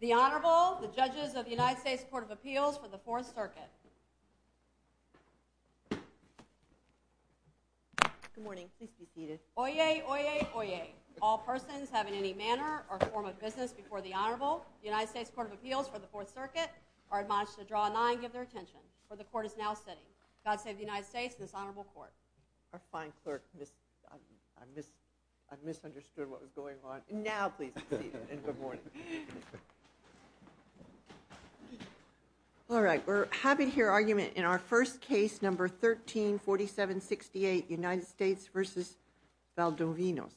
The Honorable, the judges of the United States Court of Appeals for the Fourth Circuit. Good morning. Please be seated. Oyez, oyez, oyez. All persons having any manner or form of business before the Honorable, the United States Court of Appeals for the Fourth Circuit, are admonished to draw a nine and give their attention. For the court is now sitting. God save the United States and this honorable court. Our fine clerk, I misunderstood what was going on. Now please be seated and good morning. All right, we're having here argument in our first case, number 134768, United States v. Valdovinos.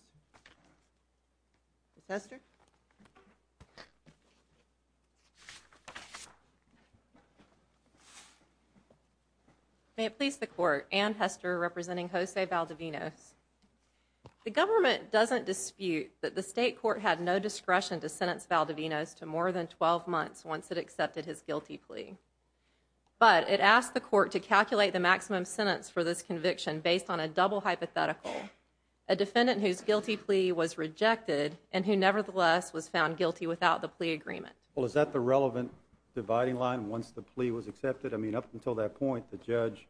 Ms. Hester? May it please the court, Anne Hester representing Jose Valdovinos. The government doesn't dispute that the state court had no discretion to sentence Valdovinos to more than 12 months once it accepted his guilty plea. But it asked the court to calculate the maximum sentence for this conviction based on a double hypothetical, a defendant whose guilty plea was rejected and who nevertheless was found guilty without the plea agreement. Well, is that the relevant dividing line once the plea was accepted? I mean, up until that point, the judge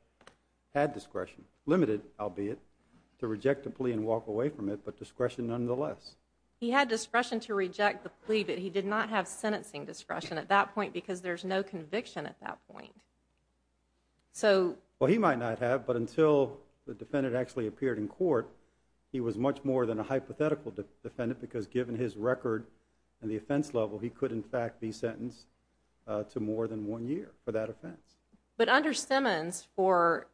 had discretion, limited albeit, to reject the plea and walk away from it, but discretion nonetheless. He had discretion to reject the plea, but he did not have sentencing discretion at that point because there's no conviction at that point. Well, he might not have, but until the defendant actually appeared in court, he was much more than a hypothetical defendant because given his record and the offense level, he could in fact be sentenced to more than one year for that offense. But under Simmons, for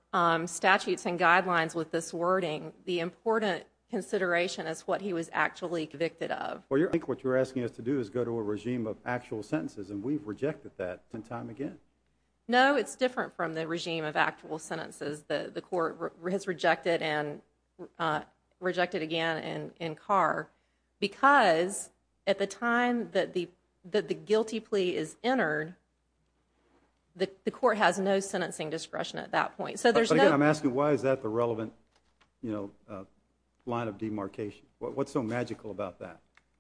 statutes and guidelines with this wording, the important consideration is what he was actually convicted of. I think what you're asking us to do is go to a regime of actual sentences, and we've rejected that time and time again. No, it's different from the regime of actual sentences that the court has rejected again in Carr because at the time that the guilty plea is entered, the court has no sentencing discretion at that point. But again, I'm asking why is that the relevant line of demarcation? What's so magical about that?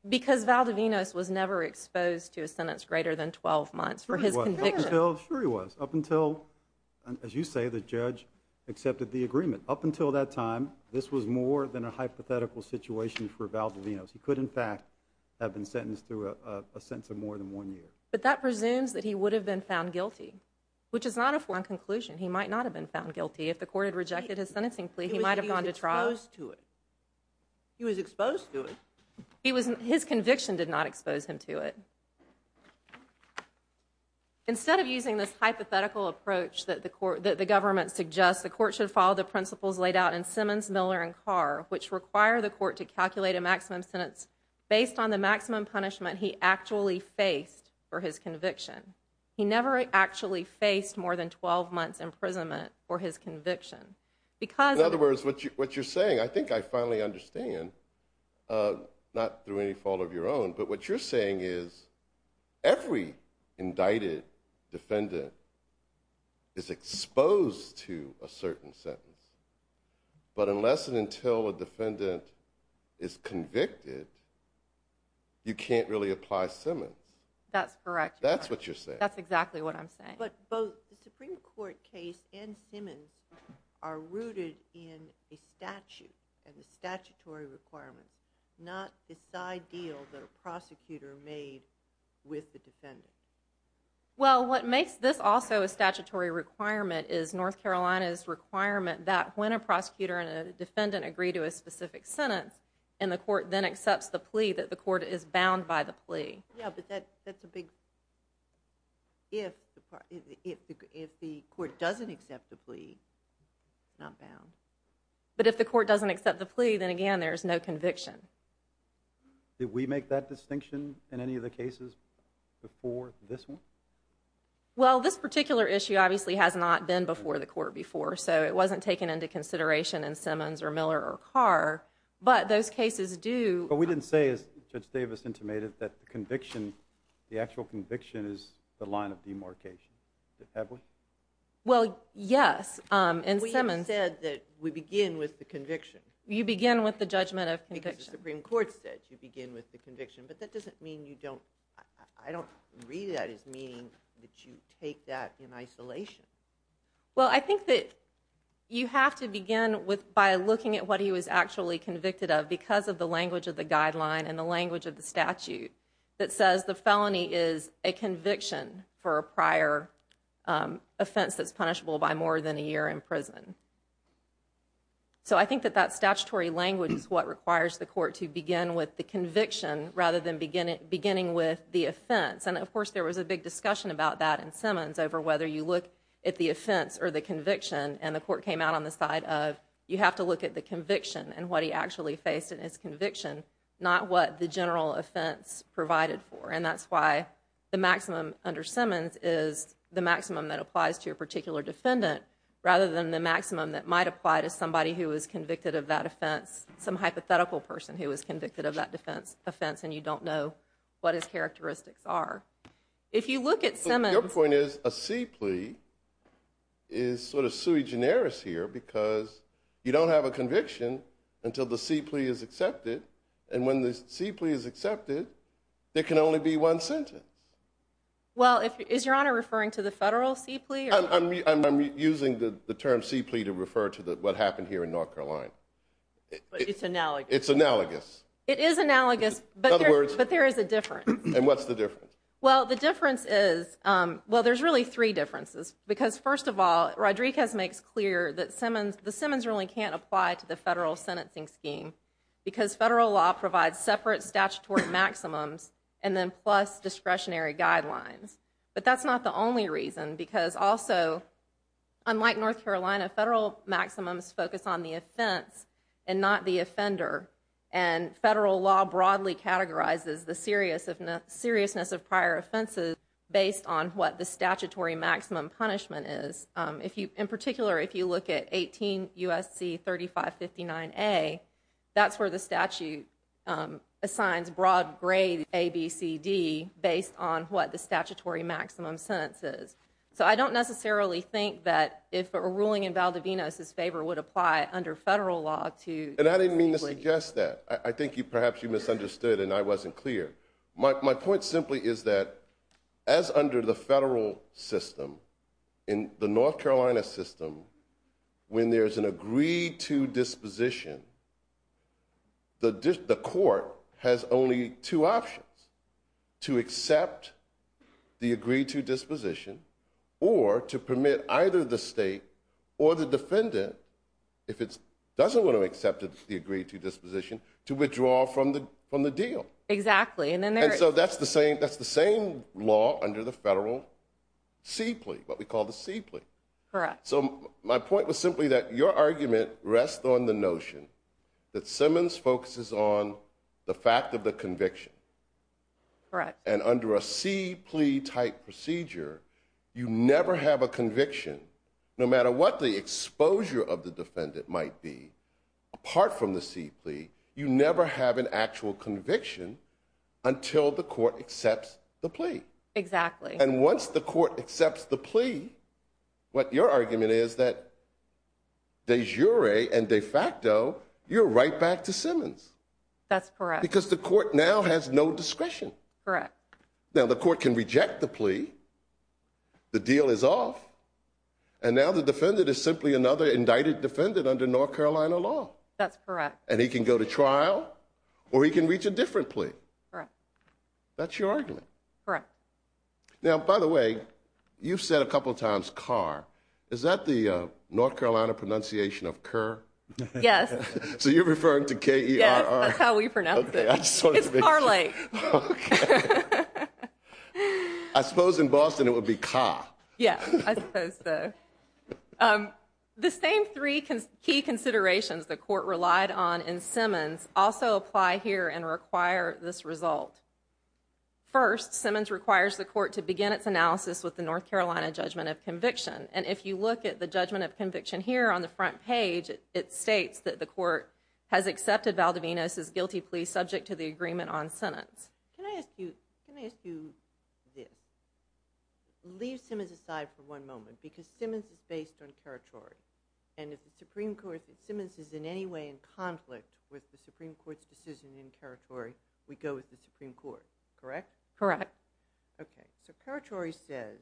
Because Valdovinos was never exposed to a sentence greater than 12 months for his conviction. Sure he was, up until, as you say, the judge accepted the agreement. Up until that time, this was more than a hypothetical situation for Valdovinos. He could in fact have been sentenced to a sentence of more than one year. But that presumes that he would have been found guilty, which is not a foreign conclusion. He might not have been found guilty. If the court had rejected his sentencing plea, he might have gone to trial. He was exposed to it. He was exposed to it. His conviction did not expose him to it. Instead of using this hypothetical approach that the government suggests, the court should follow the principles laid out in Simmons, Miller, and Carr, which require the court to calculate a maximum sentence based on the maximum punishment he actually faced for his conviction. He never actually faced more than 12 months' imprisonment for his conviction. In other words, what you're saying, I think I finally understand, not through any fault of your own, but what you're saying is every indicted defendant is exposed to a certain sentence. But unless and until a defendant is convicted, you can't really apply Simmons. That's correct. That's what you're saying. That's exactly what I'm saying. But both the Supreme Court case and Simmons are rooted in a statute and the statutory requirements, not the side deal that a prosecutor made with the defendant. Well, what makes this also a statutory requirement is North Carolina's requirement that when a prosecutor and a defendant agree to a specific sentence and the court then accepts the plea, that the court is bound by the plea. Yeah, but that's a big if the court doesn't accept the plea, not bound. But if the court doesn't accept the plea, then, again, there's no conviction. Did we make that distinction in any of the cases before this one? Well, this particular issue obviously has not been before the court before, so it wasn't taken into consideration in Simmons or Miller or Carr, but those cases do. But we didn't say, as Judge Davis intimated, that the actual conviction is the line of demarcation, did we? Well, yes. We said that we begin with the conviction. You begin with the judgment of conviction. Because the Supreme Court said you begin with the conviction, but that doesn't mean you don't. I don't read that as meaning that you take that in isolation. Well, I think that you have to begin by looking at what he was actually convicted of because of the language of the guideline and the language of the statute that says the felony is a conviction for a prior offense that's punishable by more than a year in prison. So I think that that statutory language is what requires the court to begin with the conviction rather than beginning with the offense. And, of course, there was a big discussion about that in Simmons over whether you look at the offense or the conviction, and the court came out on the side of you have to look at the conviction and what he actually faced in his conviction, not what the general offense provided for. And that's why the maximum under Simmons is the maximum that applies to your particular defendant rather than the maximum that might apply to somebody who was convicted of that offense, some hypothetical person who was convicted of that offense and you don't know what his characteristics are. So your point is a C plea is sort of sui generis here because you don't have a conviction until the C plea is accepted. And when the C plea is accepted, there can only be one sentence. Well, is Your Honor referring to the federal C plea? I'm using the term C plea to refer to what happened here in North Carolina. It's analogous. It's analogous. It is analogous, but there is a difference. And what's the difference? Well, the difference is, well, there's really three differences because, first of all, Rodriguez makes clear that the Simmons ruling can't apply to the federal sentencing scheme because federal law provides separate statutory maximums and then plus discretionary guidelines. But that's not the only reason because also, unlike North Carolina, federal maximums focus on the offense and not the offender. And federal law broadly categorizes the seriousness of prior offenses based on what the statutory maximum punishment is. In particular, if you look at 18 U.S.C. 3559A, that's where the statute assigns broad grade ABCD based on what the statutory maximum sentence is. So I don't necessarily think that if a ruling in Valdivino's favor would apply under federal law to the C plea. And I didn't mean to suggest that. I think perhaps you misunderstood and I wasn't clear. My point simply is that as under the federal system, in the North Carolina system, when there's an agreed-to disposition, the court has only two options, to accept the agreed-to disposition or to permit either the state or the defendant, if it doesn't want to accept the agreed-to disposition, to withdraw from the deal. Exactly. And so that's the same law under the federal C plea, what we call the C plea. Correct. So my point was simply that your argument rests on the notion that Simmons focuses on the fact of the conviction. Correct. And under a C plea type procedure, you never have a conviction, no matter what the exposure of the defendant might be, apart from the C plea, Exactly. And once the court accepts the plea, what your argument is that de jure and de facto, you're right back to Simmons. That's correct. Because the court now has no discretion. Correct. Now the court can reject the plea. The deal is off. And now the defendant is simply another indicted defendant under North Carolina law. That's correct. And he can go to trial or he can reach a different plea. Correct. That's your argument. Correct. Now, by the way, you've said a couple of times car. Is that the North Carolina pronunciation of Kerr? Yes. So you're referring to K E R R. That's how we pronounce it. It's Carly. I suppose in Boston it would be car. Yeah. The same three key considerations the court relied on in Simmons also apply here and require this result. First, Simmons requires the court to begin its analysis with the North Carolina judgment of conviction. And if you look at the judgment of conviction here on the front page, it states that the court has accepted Valdivinas is guilty plea subject to the agreement on sentence. Can I ask you, can I ask you this leave Simmons aside for one moment because Simmons is based on territory and if the Supreme Court Simmons is in any way in conflict with the Supreme Court's decision in territory, we go with the Supreme Court, correct? Correct. Okay. So territory says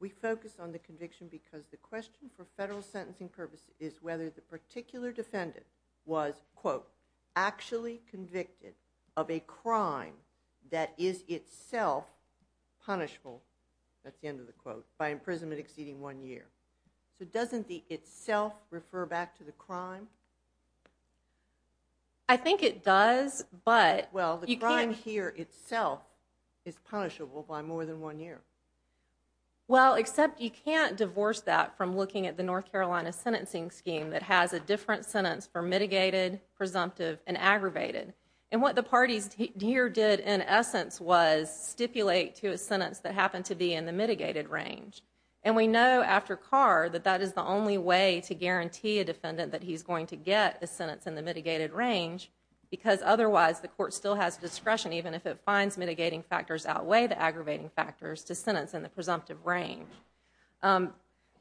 we focus on the conviction because the question for federal sentencing purpose is whether the particular defendant was quote actually convicted of a crime that is itself punishable. That's the end of the quote by imprisonment exceeding one year. So doesn't the itself refer back to the crime? I think it does, but well, you can't hear itself is punishable by more than one year. Well, except you can't divorce that from looking at the North Carolina sentencing scheme that has a different sentence for mitigated, presumptive and aggravated. And what the parties here did in essence was stipulate to a sentence that happened to be in the mitigated range. And we know after car that that is the only way to guarantee a defendant that he's going to get a sentence in the mitigated range because otherwise the court still has discretion even if it finds mitigating factors outweigh the aggravating factors to sentence in the presumptive range.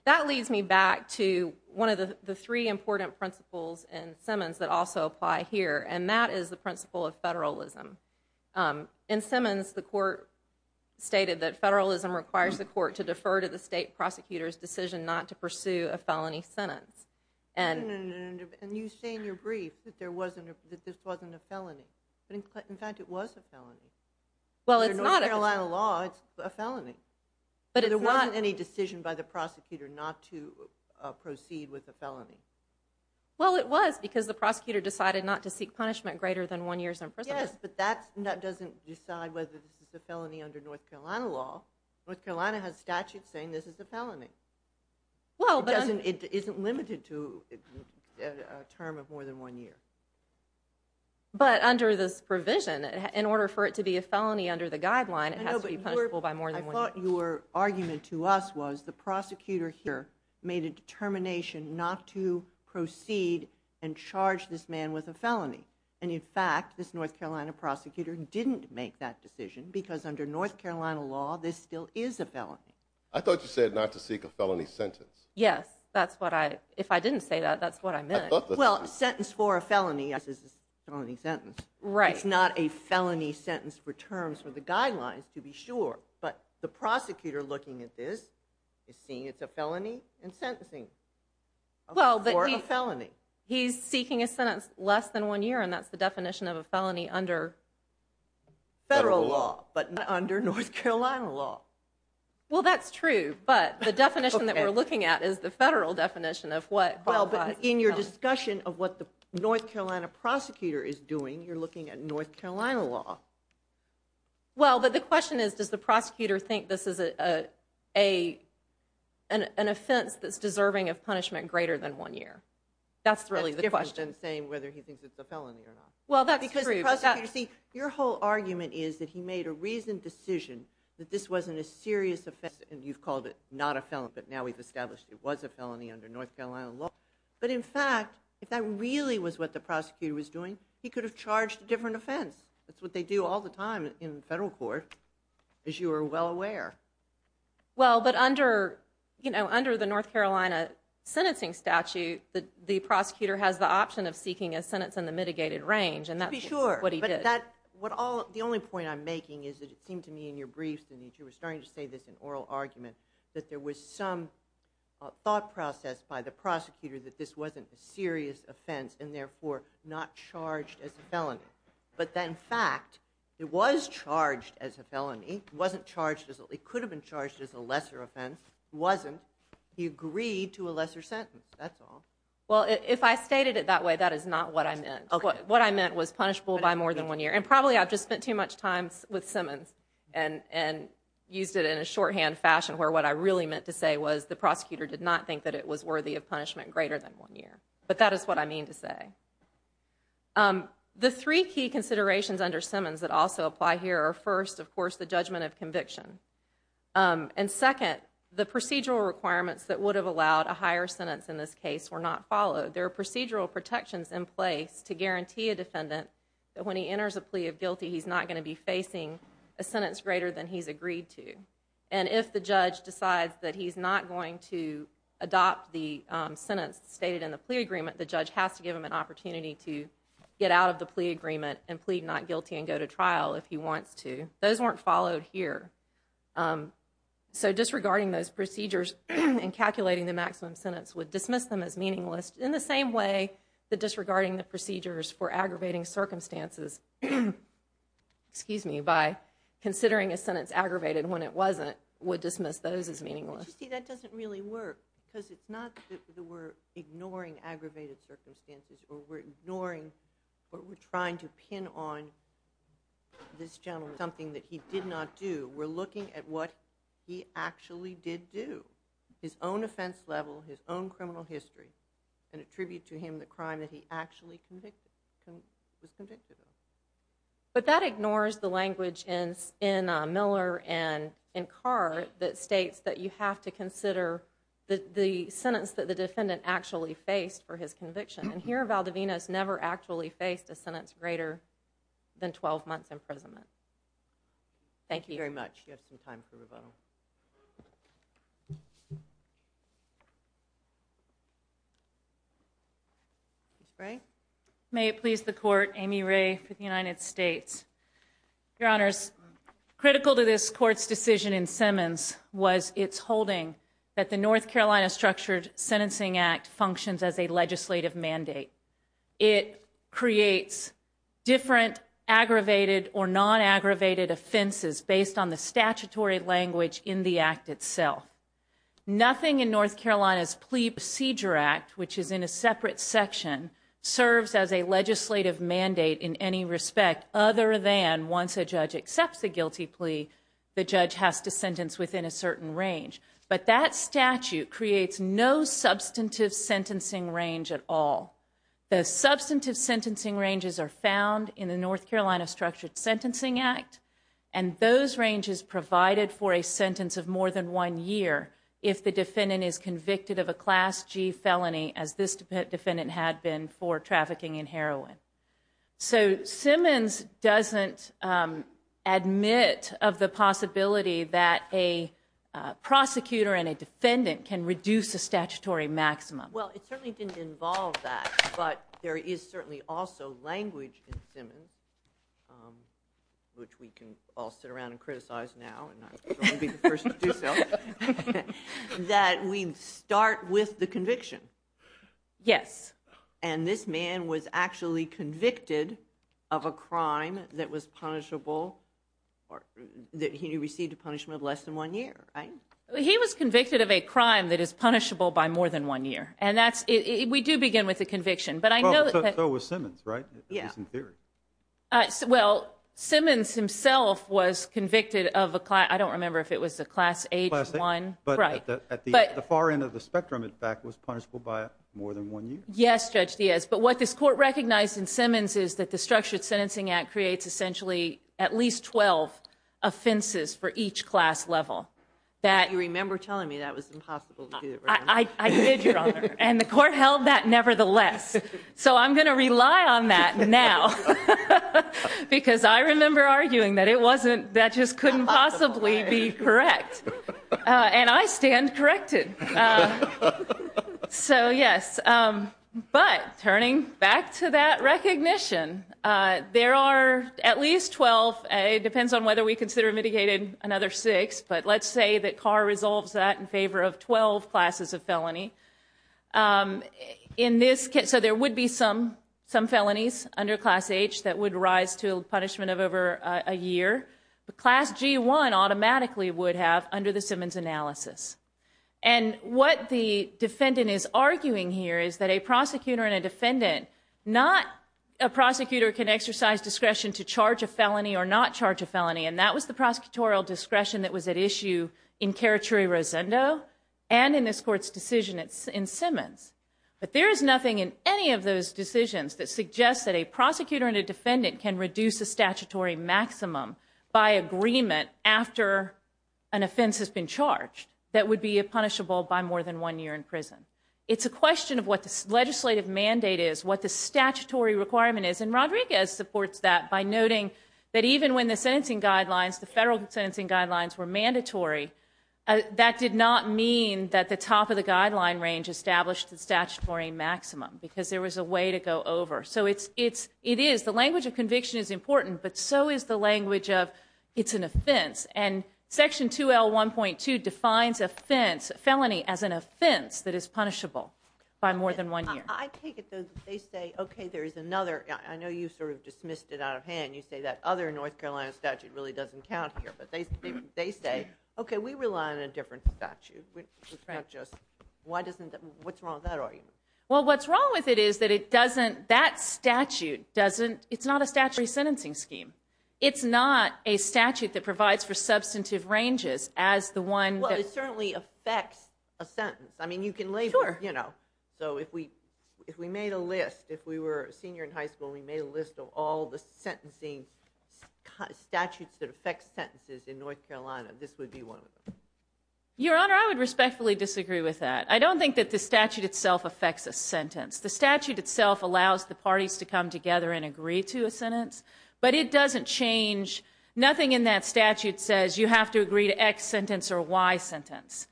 That leads me back to one of the three important principles in Simmons that also apply here. And that is the principle of federalism. In Simmons, the court stated that federalism requires the court to defer to the state prosecutor's decision not to pursue a felony sentence. And you say in your brief that there wasn't a, that this wasn't a felony, but in fact it was a felony. Well, it's not a lot of law. It's a felony, but there wasn't any decision by the prosecutor not to proceed with the felony. Well, it was because the prosecutor decided not to seek punishment greater than one years in prison, but that's not, doesn't decide whether this is a felony under North Carolina law. North Carolina has statute saying this is the felony. It isn't limited to a term of more than one year. But under this provision, in order for it to be a felony under the guideline, it has to be punishable by more than one year. I thought your argument to us was the prosecutor here made a determination not to proceed and charge this man with a felony. And in fact, this North Carolina prosecutor didn't make that decision because under North Carolina law, this still is a felony. I thought you said not to seek a felony sentence. Yes, that's what I, if I didn't say that, that's what I meant. Well, sentence for a felony. Yes, this is felony sentence, right? It's not a felony sentence for terms for the guidelines to be sure. But the prosecutor looking at this is seeing it's a felony and sentencing. Well, for a felony, he's seeking a sentence less than one year. And that's the definition of a felony under federal law, but under North Carolina law. Well, that's true. But the definition that we're looking at is the federal definition of what qualified in your discussion of what the North Carolina prosecutor is doing. You're looking at North Carolina law. Well, but the question is, does the prosecutor think this is a, a, an, an offense that's deserving of punishment greater than one year? That's really the question saying whether he thinks it's a felony or not. Well, that's because your whole argument is that he made a reasoned decision that this wasn't a serious offense. And you've called it not a felon, but now we've established it was a felony under North Carolina law. But in fact, if that really was what the prosecutor was doing, he could have charged a different offense. That's what they do all the time in federal court, as you are well aware. Well, but under, you know, under the North Carolina sentencing statute, the prosecutor has the option of seeking a sentence in the mitigated range. And that's what he did. What all the only point I'm making is that it seemed to me in your briefs, and you were starting to say this in oral argument, that there was some thought process by the prosecutor that this wasn't a serious offense and therefore not charged as a felony. But then in fact, it was charged as a felony. It wasn't charged as, it could have been charged as a lesser offense. It wasn't. He agreed to a lesser sentence. That's all. Well, if I stated it that way, that is not what I meant. What I meant was punishable by more than one year. And probably I've just spent too much time with Simmons and, and used it in a shorthand fashion where what I really meant to say was the prosecutor did not think that it was worthy of punishment greater than one year. But that is what I mean to say. The three key considerations under Simmons that also apply here are first, of course, the judgment of conviction. And second, the procedural requirements that would have allowed a higher sentence in this case were not followed. There are procedural protections in place to guarantee a defendant that when he enters a plea of guilty, he's not going to be facing a sentence greater than he's agreed to. And if the judge decides that he's not going to adopt the sentence stated in the plea agreement, the judge has to give him an opportunity to get out of the plea agreement and plead not guilty and go to trial if he wants to. Those weren't followed here. So disregarding those procedures and calculating the maximum sentence would dismiss them as meaningless in the same way that disregarding the procedures for aggravating circumstances, excuse me, by considering a sentence aggravated when it wasn't would dismiss those as meaningless. That doesn't really work because it's not that we're ignoring aggravated circumstances or we're ignoring or we're trying to pin on this gentleman something that he did not do. We're looking at what he actually did do. His own offense level, his own criminal history and attribute to him the crime that he actually was convicted of. But that ignores the language in Miller and in Carr that states that you have to consider the sentence that the defendant actually faced for his conviction. And here Valdovinos never actually faced a sentence greater than 12 months imprisonment. Thank you very much. You have some time for rebuttal. May it please the court, Amy Ray for the United States. Your Honors, critical to this court's decision in Simmons was its holding that the North Carolina Structured Sentencing Act functions as a legislative mandate. It creates different aggravated or non-aggravated offenses based on the statute in the act itself. Nothing in North Carolina's Plea Procedure Act, which is in a separate section, serves as a legislative mandate in any respect other than once a judge accepts a guilty plea, the judge has to sentence within a certain range. But that statute creates no substantive sentencing range at all. The substantive sentencing ranges are found in the North Carolina Structured Sentencing Act. And those ranges provided for a sentence of more than one year if the defendant is convicted of a Class G felony as this defendant had been for trafficking in heroin. So Simmons doesn't admit of the possibility that a prosecutor and a defendant can reduce a statutory maximum. Well, it certainly didn't involve that. But there is certainly also language in Simmons, which we can all sit around and criticize now, and I'm going to be the first to do so, that we start with the conviction. Yes. And this man was actually convicted of a crime that was punishable, that he received a punishment of less than one year, right? He was convicted of a crime that is punishable by more than one year. And we do begin with the conviction. So was Simmons, right? At least in theory. Well, Simmons himself was convicted of a, I don't remember if it was a Class H1. But at the far end of the spectrum, in fact, was punishable by more than one year. Yes, Judge Diaz. But what this court recognized in Simmons is that the Structured Sentencing Act creates essentially at least 12 offenses for each class level. You remember telling me that was impossible to do. I did, Your Honor. And the court held that nevertheless. So I'm going to rely on that now. Because I remember arguing that it wasn't, that just couldn't possibly be correct. And I stand corrected. So, yes. But turning back to that recognition, there are at least 12, it depends on whether we consider mitigating another six, but let's say that Carr resolves that in favor of 12 classes of felony. So there would be some felonies under Class H that would rise to punishment of over a year. But Class G1 automatically would have under the Simmons analysis. And what the defendant is arguing here is that a prosecutor and a defendant, not a prosecutor can exercise discretion to charge a felony or not charge a felony. And that was the prosecutorial discretion that was at issue in Carachuri-Rosendo and in this court's decision in Simmons. But there is nothing in any of those decisions that suggests that a prosecutor and a defendant can reduce a statutory maximum by agreement after an offense has been charged that would be punishable by more than one year in prison. It's a question of what the legislative mandate is, what the statutory requirement is. And Rodriguez supports that by noting that even when the sentencing guidelines, the federal sentencing guidelines were mandatory, that did not mean that the top of the guideline range established the statutory maximum because there was a way to go over. So it is, the language of conviction is important, but so is the language of it's an offense. And Section 2L1.2 defines offense, felony as an offense that is punishable by more than one year. I take it that they say, okay, there is another, I know you sort of dismissed it out of hand. You say that other North Carolina statute really doesn't count here, but they say, okay, we rely on a different statute. It's not just, why doesn't, what's wrong with that argument? Well, what's wrong with it is that it doesn't, that statute doesn't, it's not a statutory sentencing scheme. It's not a statute that provides for substantive ranges as the one. Well, it certainly affects a sentence. I mean, you can label, you know, so if we made a list, if we were a senior in high school, we made a list of all the sentencing statutes that affect sentences in North Carolina, this would be one of them. Your Honor, I would respectfully disagree with that. I don't think that the statute itself affects a sentence. The statute itself allows the parties to come together and agree to a sentence, but it doesn't change. Nothing in that statute says you have to agree to X sentence or Y sentence.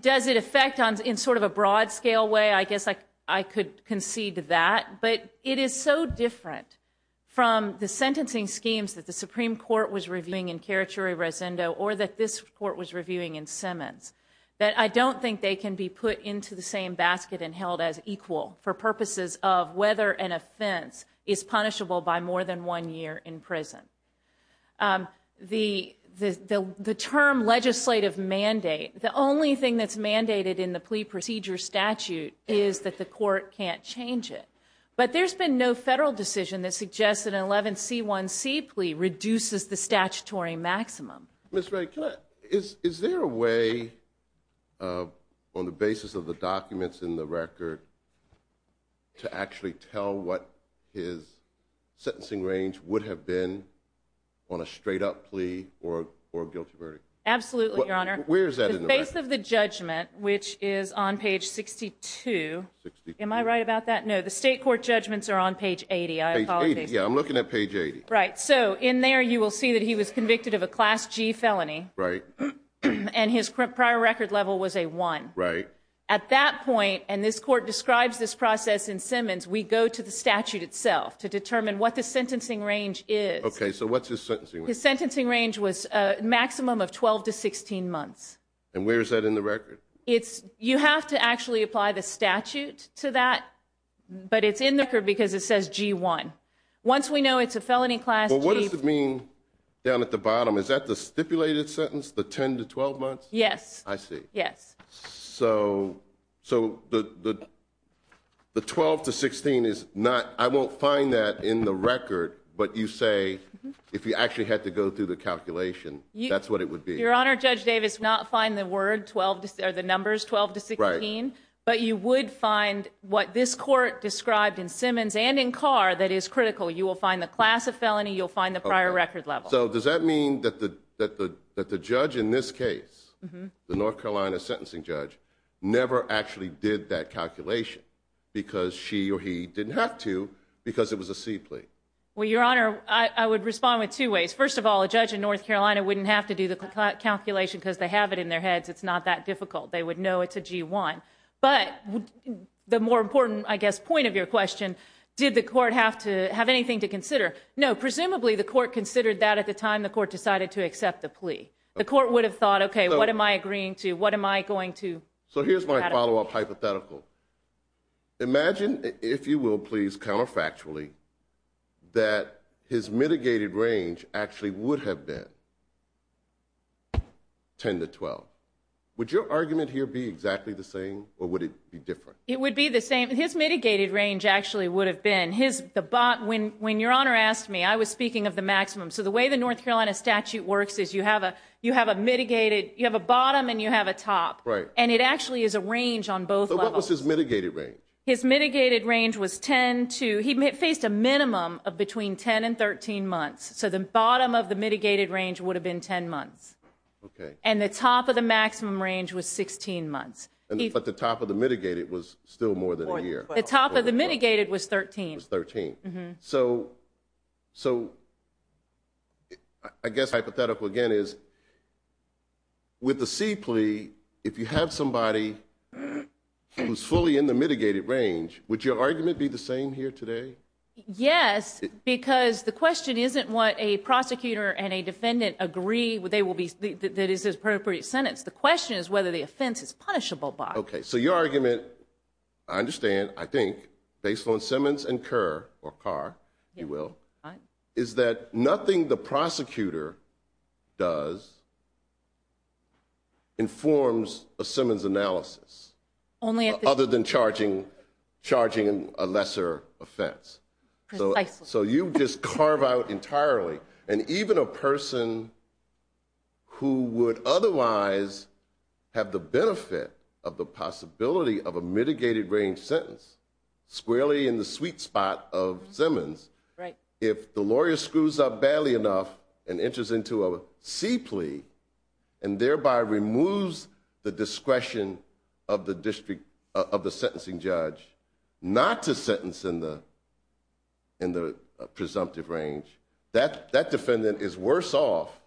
Does it affect in sort of a broad scale way? I guess I could concede to that, but it is so different from the sentencing schemes that the Supreme Court was reviewing in Carachuri-Rosendo or that this court was reviewing in Simmons that I don't think they can be put into the same basket and held as equal for purposes of whether an offense is punishable by more than one year in prison. The term legislative mandate, the only thing that's mandated in the plea procedure statute is that the court can't change it. But there's been no federal decision that suggests that an 11C1C plea reduces the statutory maximum. Ms. Wright, is there a way on the basis of the documents in the record to actually tell what his sentencing range would have been on a straight up plea or a guilty verdict? Absolutely, Your Honor. Where is that in the record? The base of the judgment, which is on page 62. Am I right about that? No. The state court judgments are on page 80, I apologize. Page 80. Yeah, I'm looking at page 80. Right. So in there you will see that he was convicted of a Class G felony. Right. And his prior record level was a one. Right. At that point, and this court describes this process in Simmons, we go to the statute itself to determine what the sentencing range is. Okay. So what's his sentencing range? His sentencing range was a maximum of 12 to 16 months. And where is that in the record? You have to actually apply the statute to that, but it's in the record because it says G1. Once we know it's a felony Class G. Well, what does it mean down at the bottom? Is that the stipulated sentence, the 10 to 12 months? Yes. I see. Yes. So the 12 to 16 is not, I won't find that in the record, but you say if you actually had to go through the calculation, that's what it would be. Your Honor, Judge Davis, not find the word 12, or the numbers 12 to 16, but you would find what this court described in Simmons and in Carr that is critical. You will find the class of felony, you'll find the prior record level. So does that mean that the judge in this case, the North Carolina sentencing judge, never actually did that calculation because she or he didn't have to, because it was a C plea? Well, Your Honor, I would respond with two ways. First of all, a judge in North Carolina wouldn't have to do the calculation because they have it in their heads. It's not that difficult. They would know it's a G1. But the more important, I guess, point of your question, did the court have to have anything to consider? No. Presumably the court considered that at the time the court decided to accept the plea. The court would have thought, okay, what am I agreeing to? What am I going to? So here's my follow-up hypothetical. Imagine, if you will, please, counterfactually, that his mitigated range actually would have been 10 to 12. Would your argument here be exactly the same or would it be different? It would be the same. His mitigated range actually would have been. When Your Honor asked me, I was speaking of the maximum. So the way the North Carolina statute works is you have a mitigated, you have a bottom and you have a top. Right. And it actually is a range on both levels. So what was his mitigated range? His mitigated range was 10 to, he faced a minimum of between 10 and 13 months. So the bottom of the mitigated range would have been 10 months. Okay. And the top of the maximum range was 16 months. But the top of the mitigated was still more than a year. The top of the mitigated was 13. Was 13. So I guess hypothetical again is, with the C plea, if you have somebody who's fully in the mitigated range, would your argument be the same here today? Yes, because the question isn't what a prosecutor and a defendant agree, that is the appropriate sentence. The question is whether the offense is punishable by it. Okay. So your argument, I understand, I think, based on Simmons and Kerr, or Carr, if you will, is that nothing the prosecutor does informs a Simmons analysis. Only if it's true. Other than charging a lesser offense. Precisely. So you just carve out entirely. And even a person who would otherwise have the benefit of the possibility of a mitigated range sentence squarely in the sweet spot of Simmons, if the lawyer screws up badly enough and enters into a C plea and thereby removes the discretion of the sentencing judge not to sentence in the presumptive range, that defendant is worse off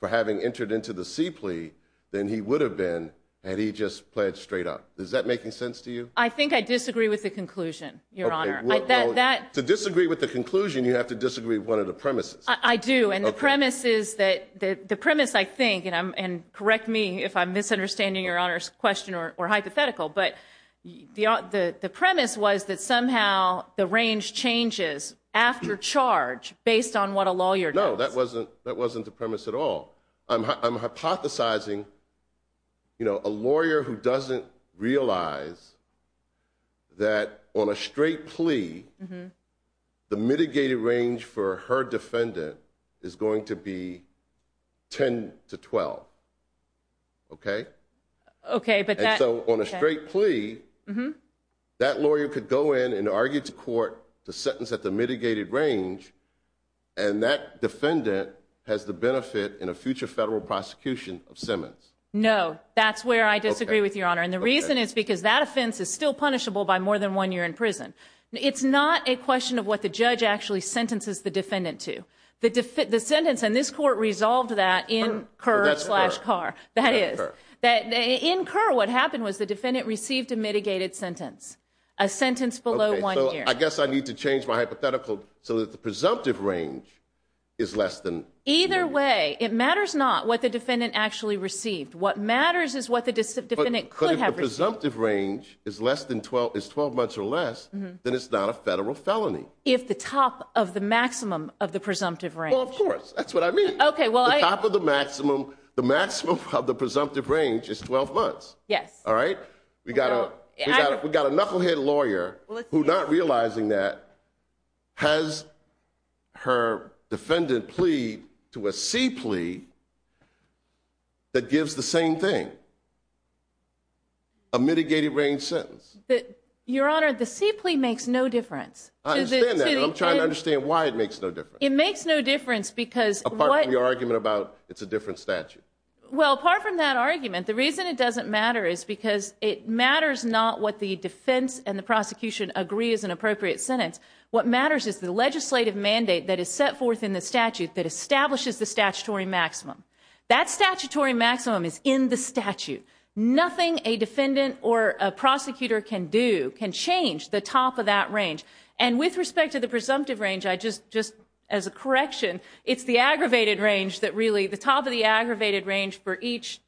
for having entered into the C plea than he would have been had he just pledged straight up. Does that make sense to you? I think I disagree with the conclusion, Your Honor. To disagree with the conclusion, you have to disagree with one of the premises. I do, and the premise is that the premise, I think, and correct me if I'm misunderstanding Your Honor's question or hypothetical, but the premise was that somehow the range changes after charge based on what a lawyer does. No, that wasn't the premise at all. I'm hypothesizing a lawyer who doesn't realize that on a straight plea, the mitigated range for her defendant is going to be 10 to 12. Okay? Okay, but that. And so on a straight plea, that lawyer could go in and argue to court the sentence at the mitigated range, and that defendant has the benefit in a future federal prosecution of Simmons. No, that's where I disagree with Your Honor, and the reason is because that offense is still punishable by more than one year in prison. It's not a question of what the judge actually sentences the defendant to. The sentence, and this court resolved that in Kerr v. Carr. In Kerr, what happened was the defendant received a mitigated sentence, a sentence below one year. So I guess I need to change my hypothetical so that the presumptive range is less than one year. Either way, it matters not what the defendant actually received. What matters is what the defendant could have received. But if the presumptive range is 12 months or less, then it's not a federal felony. If the top of the maximum of the presumptive range. Well, of course. That's what I mean. The top of the maximum of the presumptive range is 12 months. Yes. All right. We've got a knucklehead lawyer who, not realizing that, has her defendant plead to a C plea that gives the same thing, a mitigated range sentence. Your Honor, the C plea makes no difference. I understand that. I'm trying to understand why it makes no difference. It makes no difference because. Apart from your argument about it's a different statute. Well, apart from that argument, the reason it doesn't matter is because it matters not what the defense and the prosecution agree is an appropriate sentence. What matters is the legislative mandate that is set forth in the statute that establishes the statutory maximum. That statutory maximum is in the statute. Nothing a defendant or a prosecutor can do can change the top of that range. And with respect to the presumptive range, just as a correction, it's the aggravated range that really, the top of the aggravated range for each.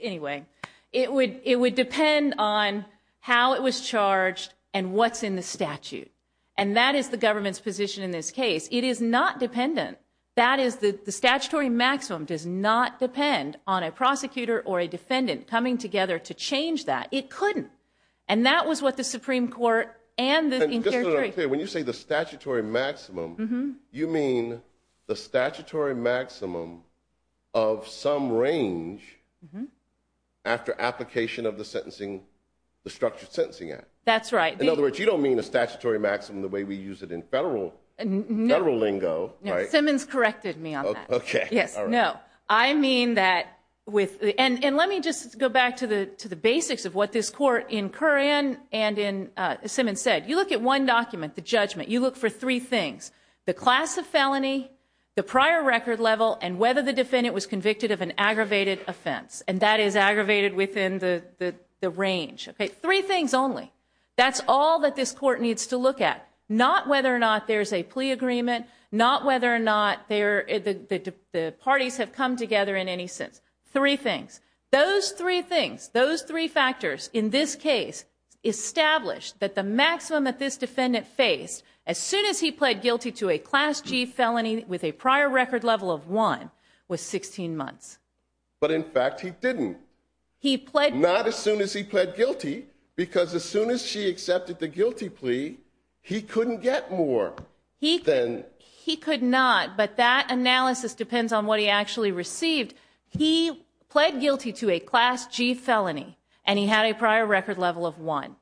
Anyway, it would depend on how it was charged and what's in the statute. And that is the government's position in this case. It is not dependent. That is the statutory maximum does not depend on a prosecutor or a defendant coming together to change that. It couldn't. And that was what the Supreme Court and the. When you say the statutory maximum, you mean the statutory maximum of some range. After application of the sentencing, the structured sentencing act. That's right. In other words, you don't mean a statutory maximum the way we use it in federal and federal lingo. Simmons corrected me. OK. Yes. No, I mean that with. And let me just go back to the to the basics of what this court in Koran and in Simmons said. You look at one document, the judgment. You look for three things, the class of felony, the prior record level, and whether the defendant was convicted of an aggravated offense. And that is aggravated within the range. Three things only. That's all that this court needs to look at, not whether or not there is a plea agreement, not whether or not the parties have come together in any sense. Three things. Those three things, those three factors in this case established that the maximum that this defendant faced as soon as he pled guilty to a class G felony with a prior record level of one was 16 months. But in fact, he didn't. He pled not as soon as he pled guilty because as soon as she accepted the guilty plea, he couldn't get more. He then he could not. But that analysis depends on what he actually received. He pled guilty to a class G felony, and he had a prior record level of one.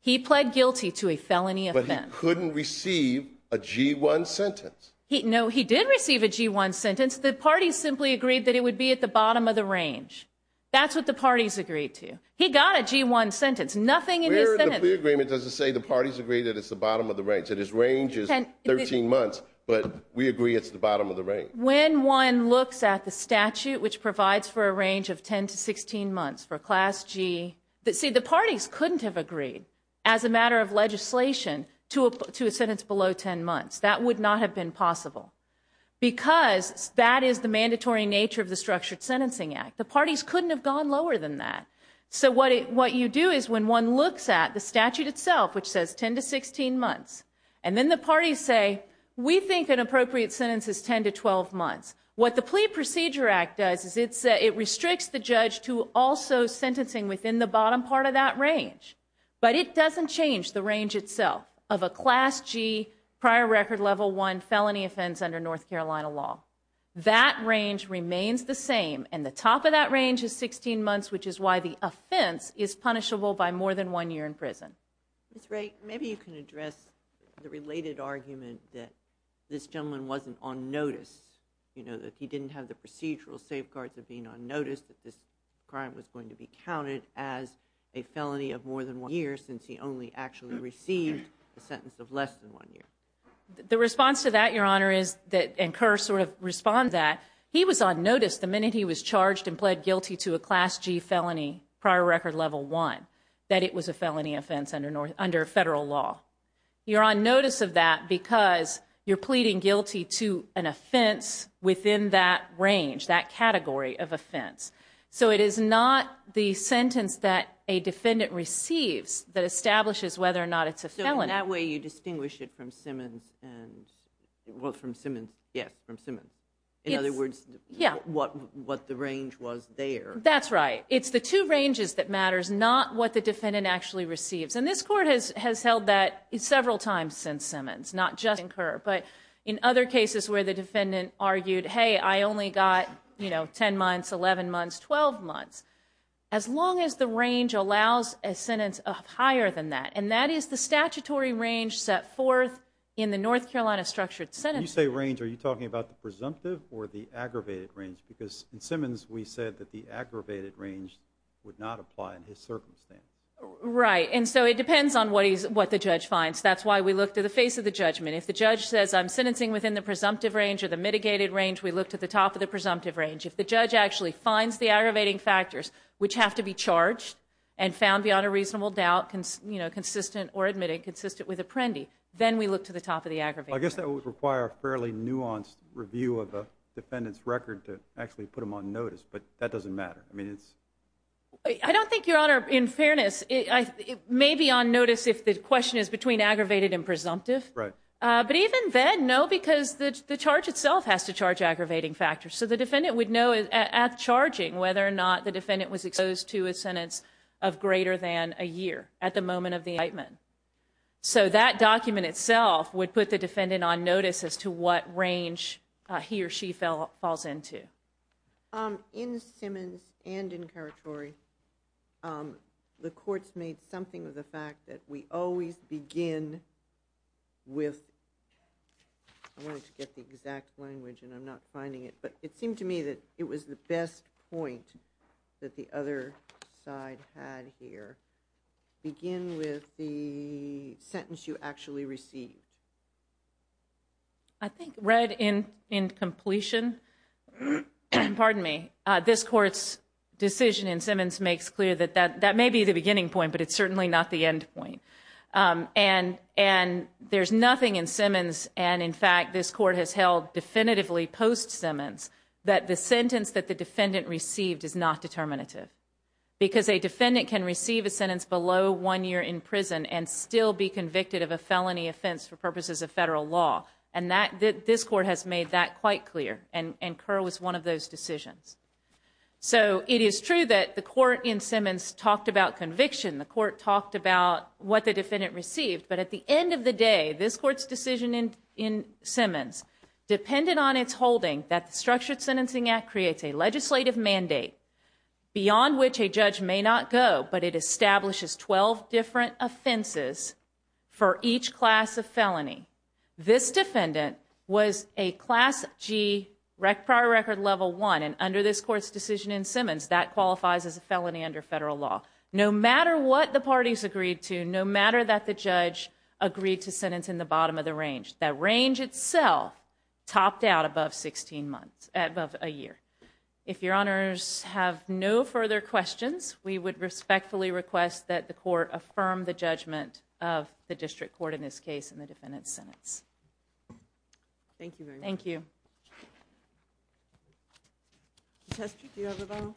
He pled guilty to a felony offense. But he couldn't receive a G1 sentence. No, he did receive a G1 sentence. The parties simply agreed that it would be at the bottom of the range. That's what the parties agreed to. He got a G1 sentence. Nothing in his sentence. The plea agreement doesn't say the parties agree that it's the bottom of the range. That his range is 13 months, but we agree it's the bottom of the range. When one looks at the statute, which provides for a range of 10 to 16 months for a class G, see, the parties couldn't have agreed as a matter of legislation to a sentence below 10 months. That would not have been possible because that is the mandatory nature of the Structured Sentencing Act. The parties couldn't have gone lower than that. So what you do is when one looks at the statute itself, which says 10 to 16 months, and then the parties say, we think an appropriate sentence is 10 to 12 months. What the Plea Procedure Act does is it restricts the judge to also sentencing within the bottom part of that range. But it doesn't change the range itself of a class G prior record level 1 felony offense under North Carolina law. That range remains the same, and the top of that range is 16 months, which is why the offense is punishable by more than one year in prison. Ms. Wright, maybe you can address the related argument that this gentleman wasn't on notice, you know, that he didn't have the procedural safeguards of being on notice, that this crime was going to be counted as a felony of more than one year since he only actually received a sentence of less than one year. The response to that, Your Honor, is that, and Kerr sort of responds to that, he was on notice the minute he was charged and pled guilty to a class G felony prior record level 1, that it was a felony offense under federal law. You're on notice of that because you're pleading guilty to an offense within that range, that category of offense. So it is not the sentence that a defendant receives that establishes whether or not it's a felony. So in that way, you distinguish it from Simmons and, well, from Simmons, yes, from Simmons. In other words, what the range was there. That's right. It's the two ranges that matters, not what the defendant actually receives. And this court has held that several times since Simmons, not just in Kerr, but in other cases where the defendant argued, hey, I only got, you know, 10 months, 11 months, 12 months, as long as the range allows a sentence of higher than that. And that is the statutory range set forth in the North Carolina Structured Sentencing Act. When you say range, are you talking about the presumptive or the aggravated range? Because in Simmons, we said that the aggravated range would not apply in his circumstance. Right. And so it depends on what the judge finds. That's why we look to the face of the judgment. If the judge says I'm sentencing within the presumptive range or the mitigated range, we look to the top of the presumptive range. If the judge actually finds the aggravating factors, which have to be charged and found beyond a reasonable doubt consistent or admitted consistent with Apprendi, then we look to the top of the aggravated range. I guess that would require a fairly nuanced review of a defendant's record to actually put them on notice, but that doesn't matter. I don't think, Your Honor, in fairness, it may be on notice if the question is between aggravated and presumptive. Right. But even then, no, because the charge itself has to charge aggravating factors. So the defendant would know at charging whether or not the defendant was exposed to a sentence of greater than a year at the moment of the indictment. So that document itself would put the defendant on notice as to what range he or she falls into. In Simmons and in Karatori, the courts made something of the fact that we always begin with, I wanted to get the exact language and I'm not finding it, but it seemed to me that it was the best point that the other side had here, begin with the sentence you actually received. I think read in completion, pardon me, this court's decision in Simmons makes clear that that may be the beginning point, but it's certainly not the end point. And there's nothing in Simmons, and, in fact, this court has held definitively post-Simmons, that the sentence that the defendant received is not determinative. Because a defendant can receive a sentence below one year in prison and still be convicted of a felony offense for purposes of federal law. And this court has made that quite clear. And Kerr was one of those decisions. So it is true that the court in Simmons talked about conviction. The court talked about what the defendant received. But at the end of the day, this court's decision in Simmons, dependent on its holding that the Structured Sentencing Act creates a legislative mandate beyond which a judge may not go, but it establishes 12 different offenses for each class of felony. This defendant was a class G prior record level one, and under this court's decision in Simmons, that qualifies as a felony under federal law. No matter what the parties agreed to, no matter that the judge agreed to sentence in the bottom of the range, that range itself topped out above a year. If your honors have no further questions, we would respectfully request that the court affirm the judgment of the district court in this case in the defendant's sentence. Thank you very much. Thank you. Contestant, do you have a vote?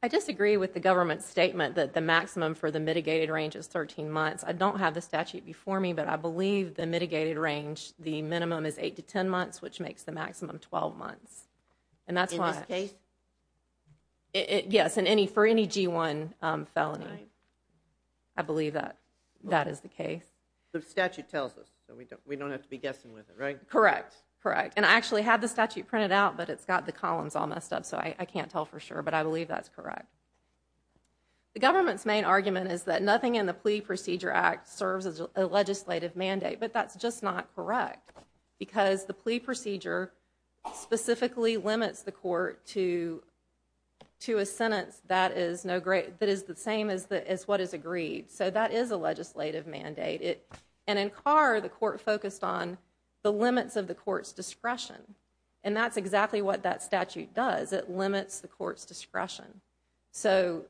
I disagree with the government's statement that the maximum for the mitigated range is 13 months. I don't have the statute before me, but I believe the mitigated range, the minimum is 8 to 10 months, which makes the maximum 12 months. In this case? Yes, for any G1 felony. I believe that that is the case. The statute tells us, so we don't have to be guessing with it, right? Correct. And I actually have the statute printed out, but it's got the columns all messed up, so I can't tell for sure, but I believe that's correct. The government's main argument is that nothing in the Plea Procedure Act serves as a legislative mandate, but that's just not correct because the Plea Procedure specifically limits the court to a sentence that is the same as what is agreed, so that is a legislative mandate. And in Carr, the court focused on the limits of the court's discretion, and that's exactly what that statute does. It limits the court's discretion. So,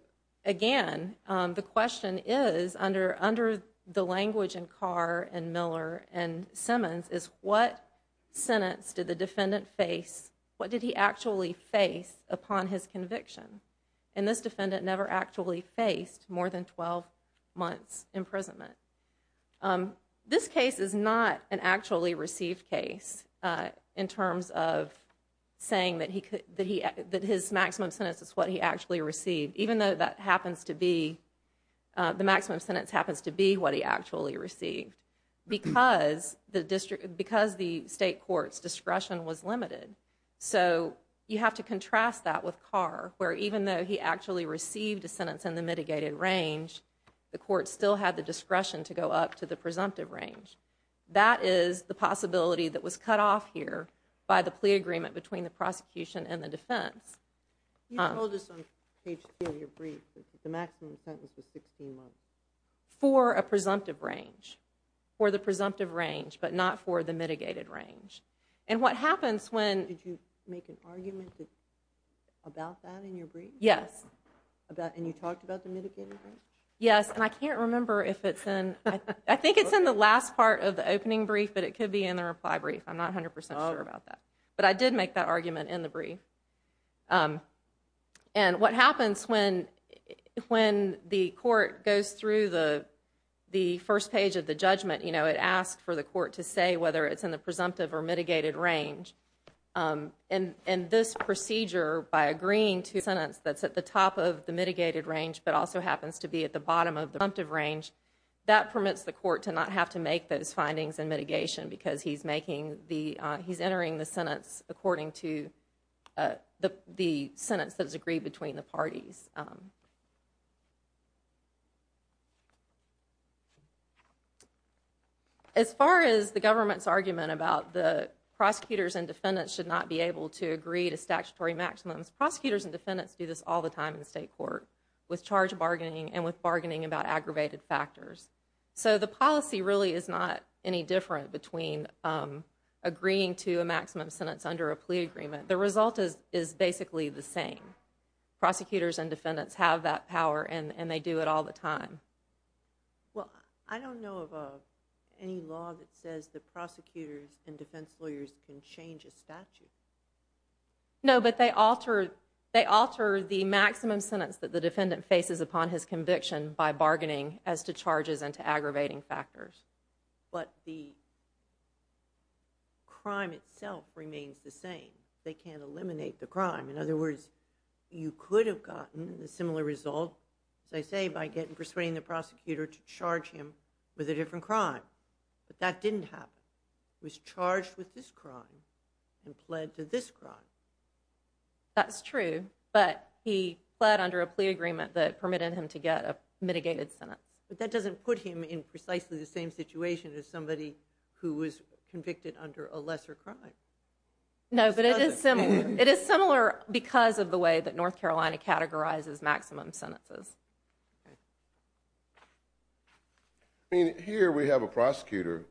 again, the question is, under the language in Carr and Miller and Simmons, is what sentence did the defendant face, what did he actually face upon his conviction? And this defendant never actually faced more than 12 months' imprisonment. This case is not an actually received case in terms of saying that his maximum sentence is what he actually received, even though that happens to be, the maximum sentence happens to be what he actually received because the state court's discretion was limited. So you have to contrast that with Carr, where even though he actually received a sentence in the mitigated range, the court still had the discretion to go up to the presumptive range. That is the possibility that was cut off here by the plea agreement between the prosecution and the defense. You told us on page 2 of your brief that the maximum sentence was 16 months. For a presumptive range. For the presumptive range, but not for the mitigated range. And what happens when— Did you make an argument about that in your brief? Yes. And you talked about the mitigated range? Yes, and I can't remember if it's in— I think it's in the last part of the opening brief, but it could be in the reply brief. I'm not 100% sure about that. But I did make that argument in the brief. And what happens when the court goes through the first page of the judgment, it asks for the court to say whether it's in the presumptive or mitigated range. And this procedure, by agreeing to a sentence that's at the top of the mitigated range but also happens to be at the bottom of the presumptive range, that permits the court to not have to make those findings in mitigation because he's entering the sentence according to the sentence that's agreed between the parties. As far as the government's argument about the prosecutors and defendants should not be able to agree to statutory maximums, prosecutors and defendants do this all the time in state court with charge bargaining and with bargaining about aggravated factors. So the policy really is not any different between agreeing to a maximum sentence under a plea agreement. The result is basically the same. Prosecutors and defendants have that power and they do it all the time. Well, I don't know of any law that says that prosecutors and defense lawyers can change a statute. No, but they alter the maximum sentence that the defendant faces upon his conviction by bargaining as to charges and to aggravating factors. But the crime itself remains the same. They can't eliminate the crime. In other words, you could have gotten a similar result, as I say, by persuading the prosecutor to charge him with a different crime. But that didn't happen. He was charged with this crime and pled to this crime. That's true, but he pled under a plea agreement that permitted him to get a mitigated sentence. But that doesn't put him in precisely the same situation as somebody who was convicted under a lesser crime. No, but it is similar because of the way that North Carolina categorizes maximum sentences. Here we have a prosecutor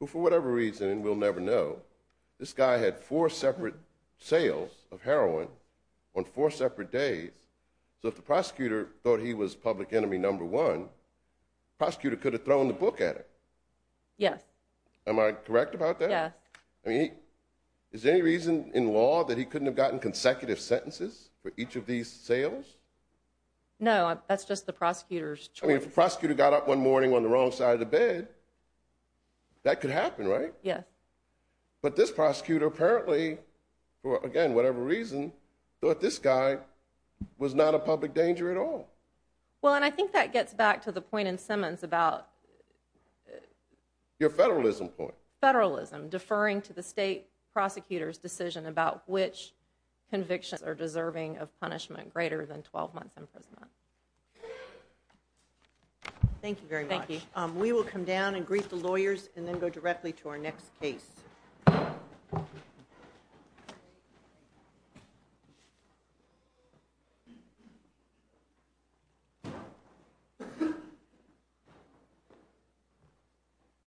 who, for whatever reason, we'll never know, this guy had four separate sales of heroin on four separate days. So if the prosecutor thought he was public enemy number one, the prosecutor could have thrown the book at him. Yes. Am I correct about that? Yes. I mean, is there any reason in law that he couldn't have gotten consecutive sentences for each of these sales? No, that's just the prosecutor's choice. I mean, if the prosecutor got up one morning on the wrong side of the bed, that could happen, right? Yes. But this prosecutor apparently, for, again, whatever reason, thought this guy was not a public danger at all. Well, and I think that gets back to the point in Simmons about... Your federalism point. Federalism, deferring to the state prosecutor's decision about which convictions are deserving of punishment greater than 12 months in prison. Thank you very much. Thank you. We will come down and greet the lawyers and then go directly to our next case.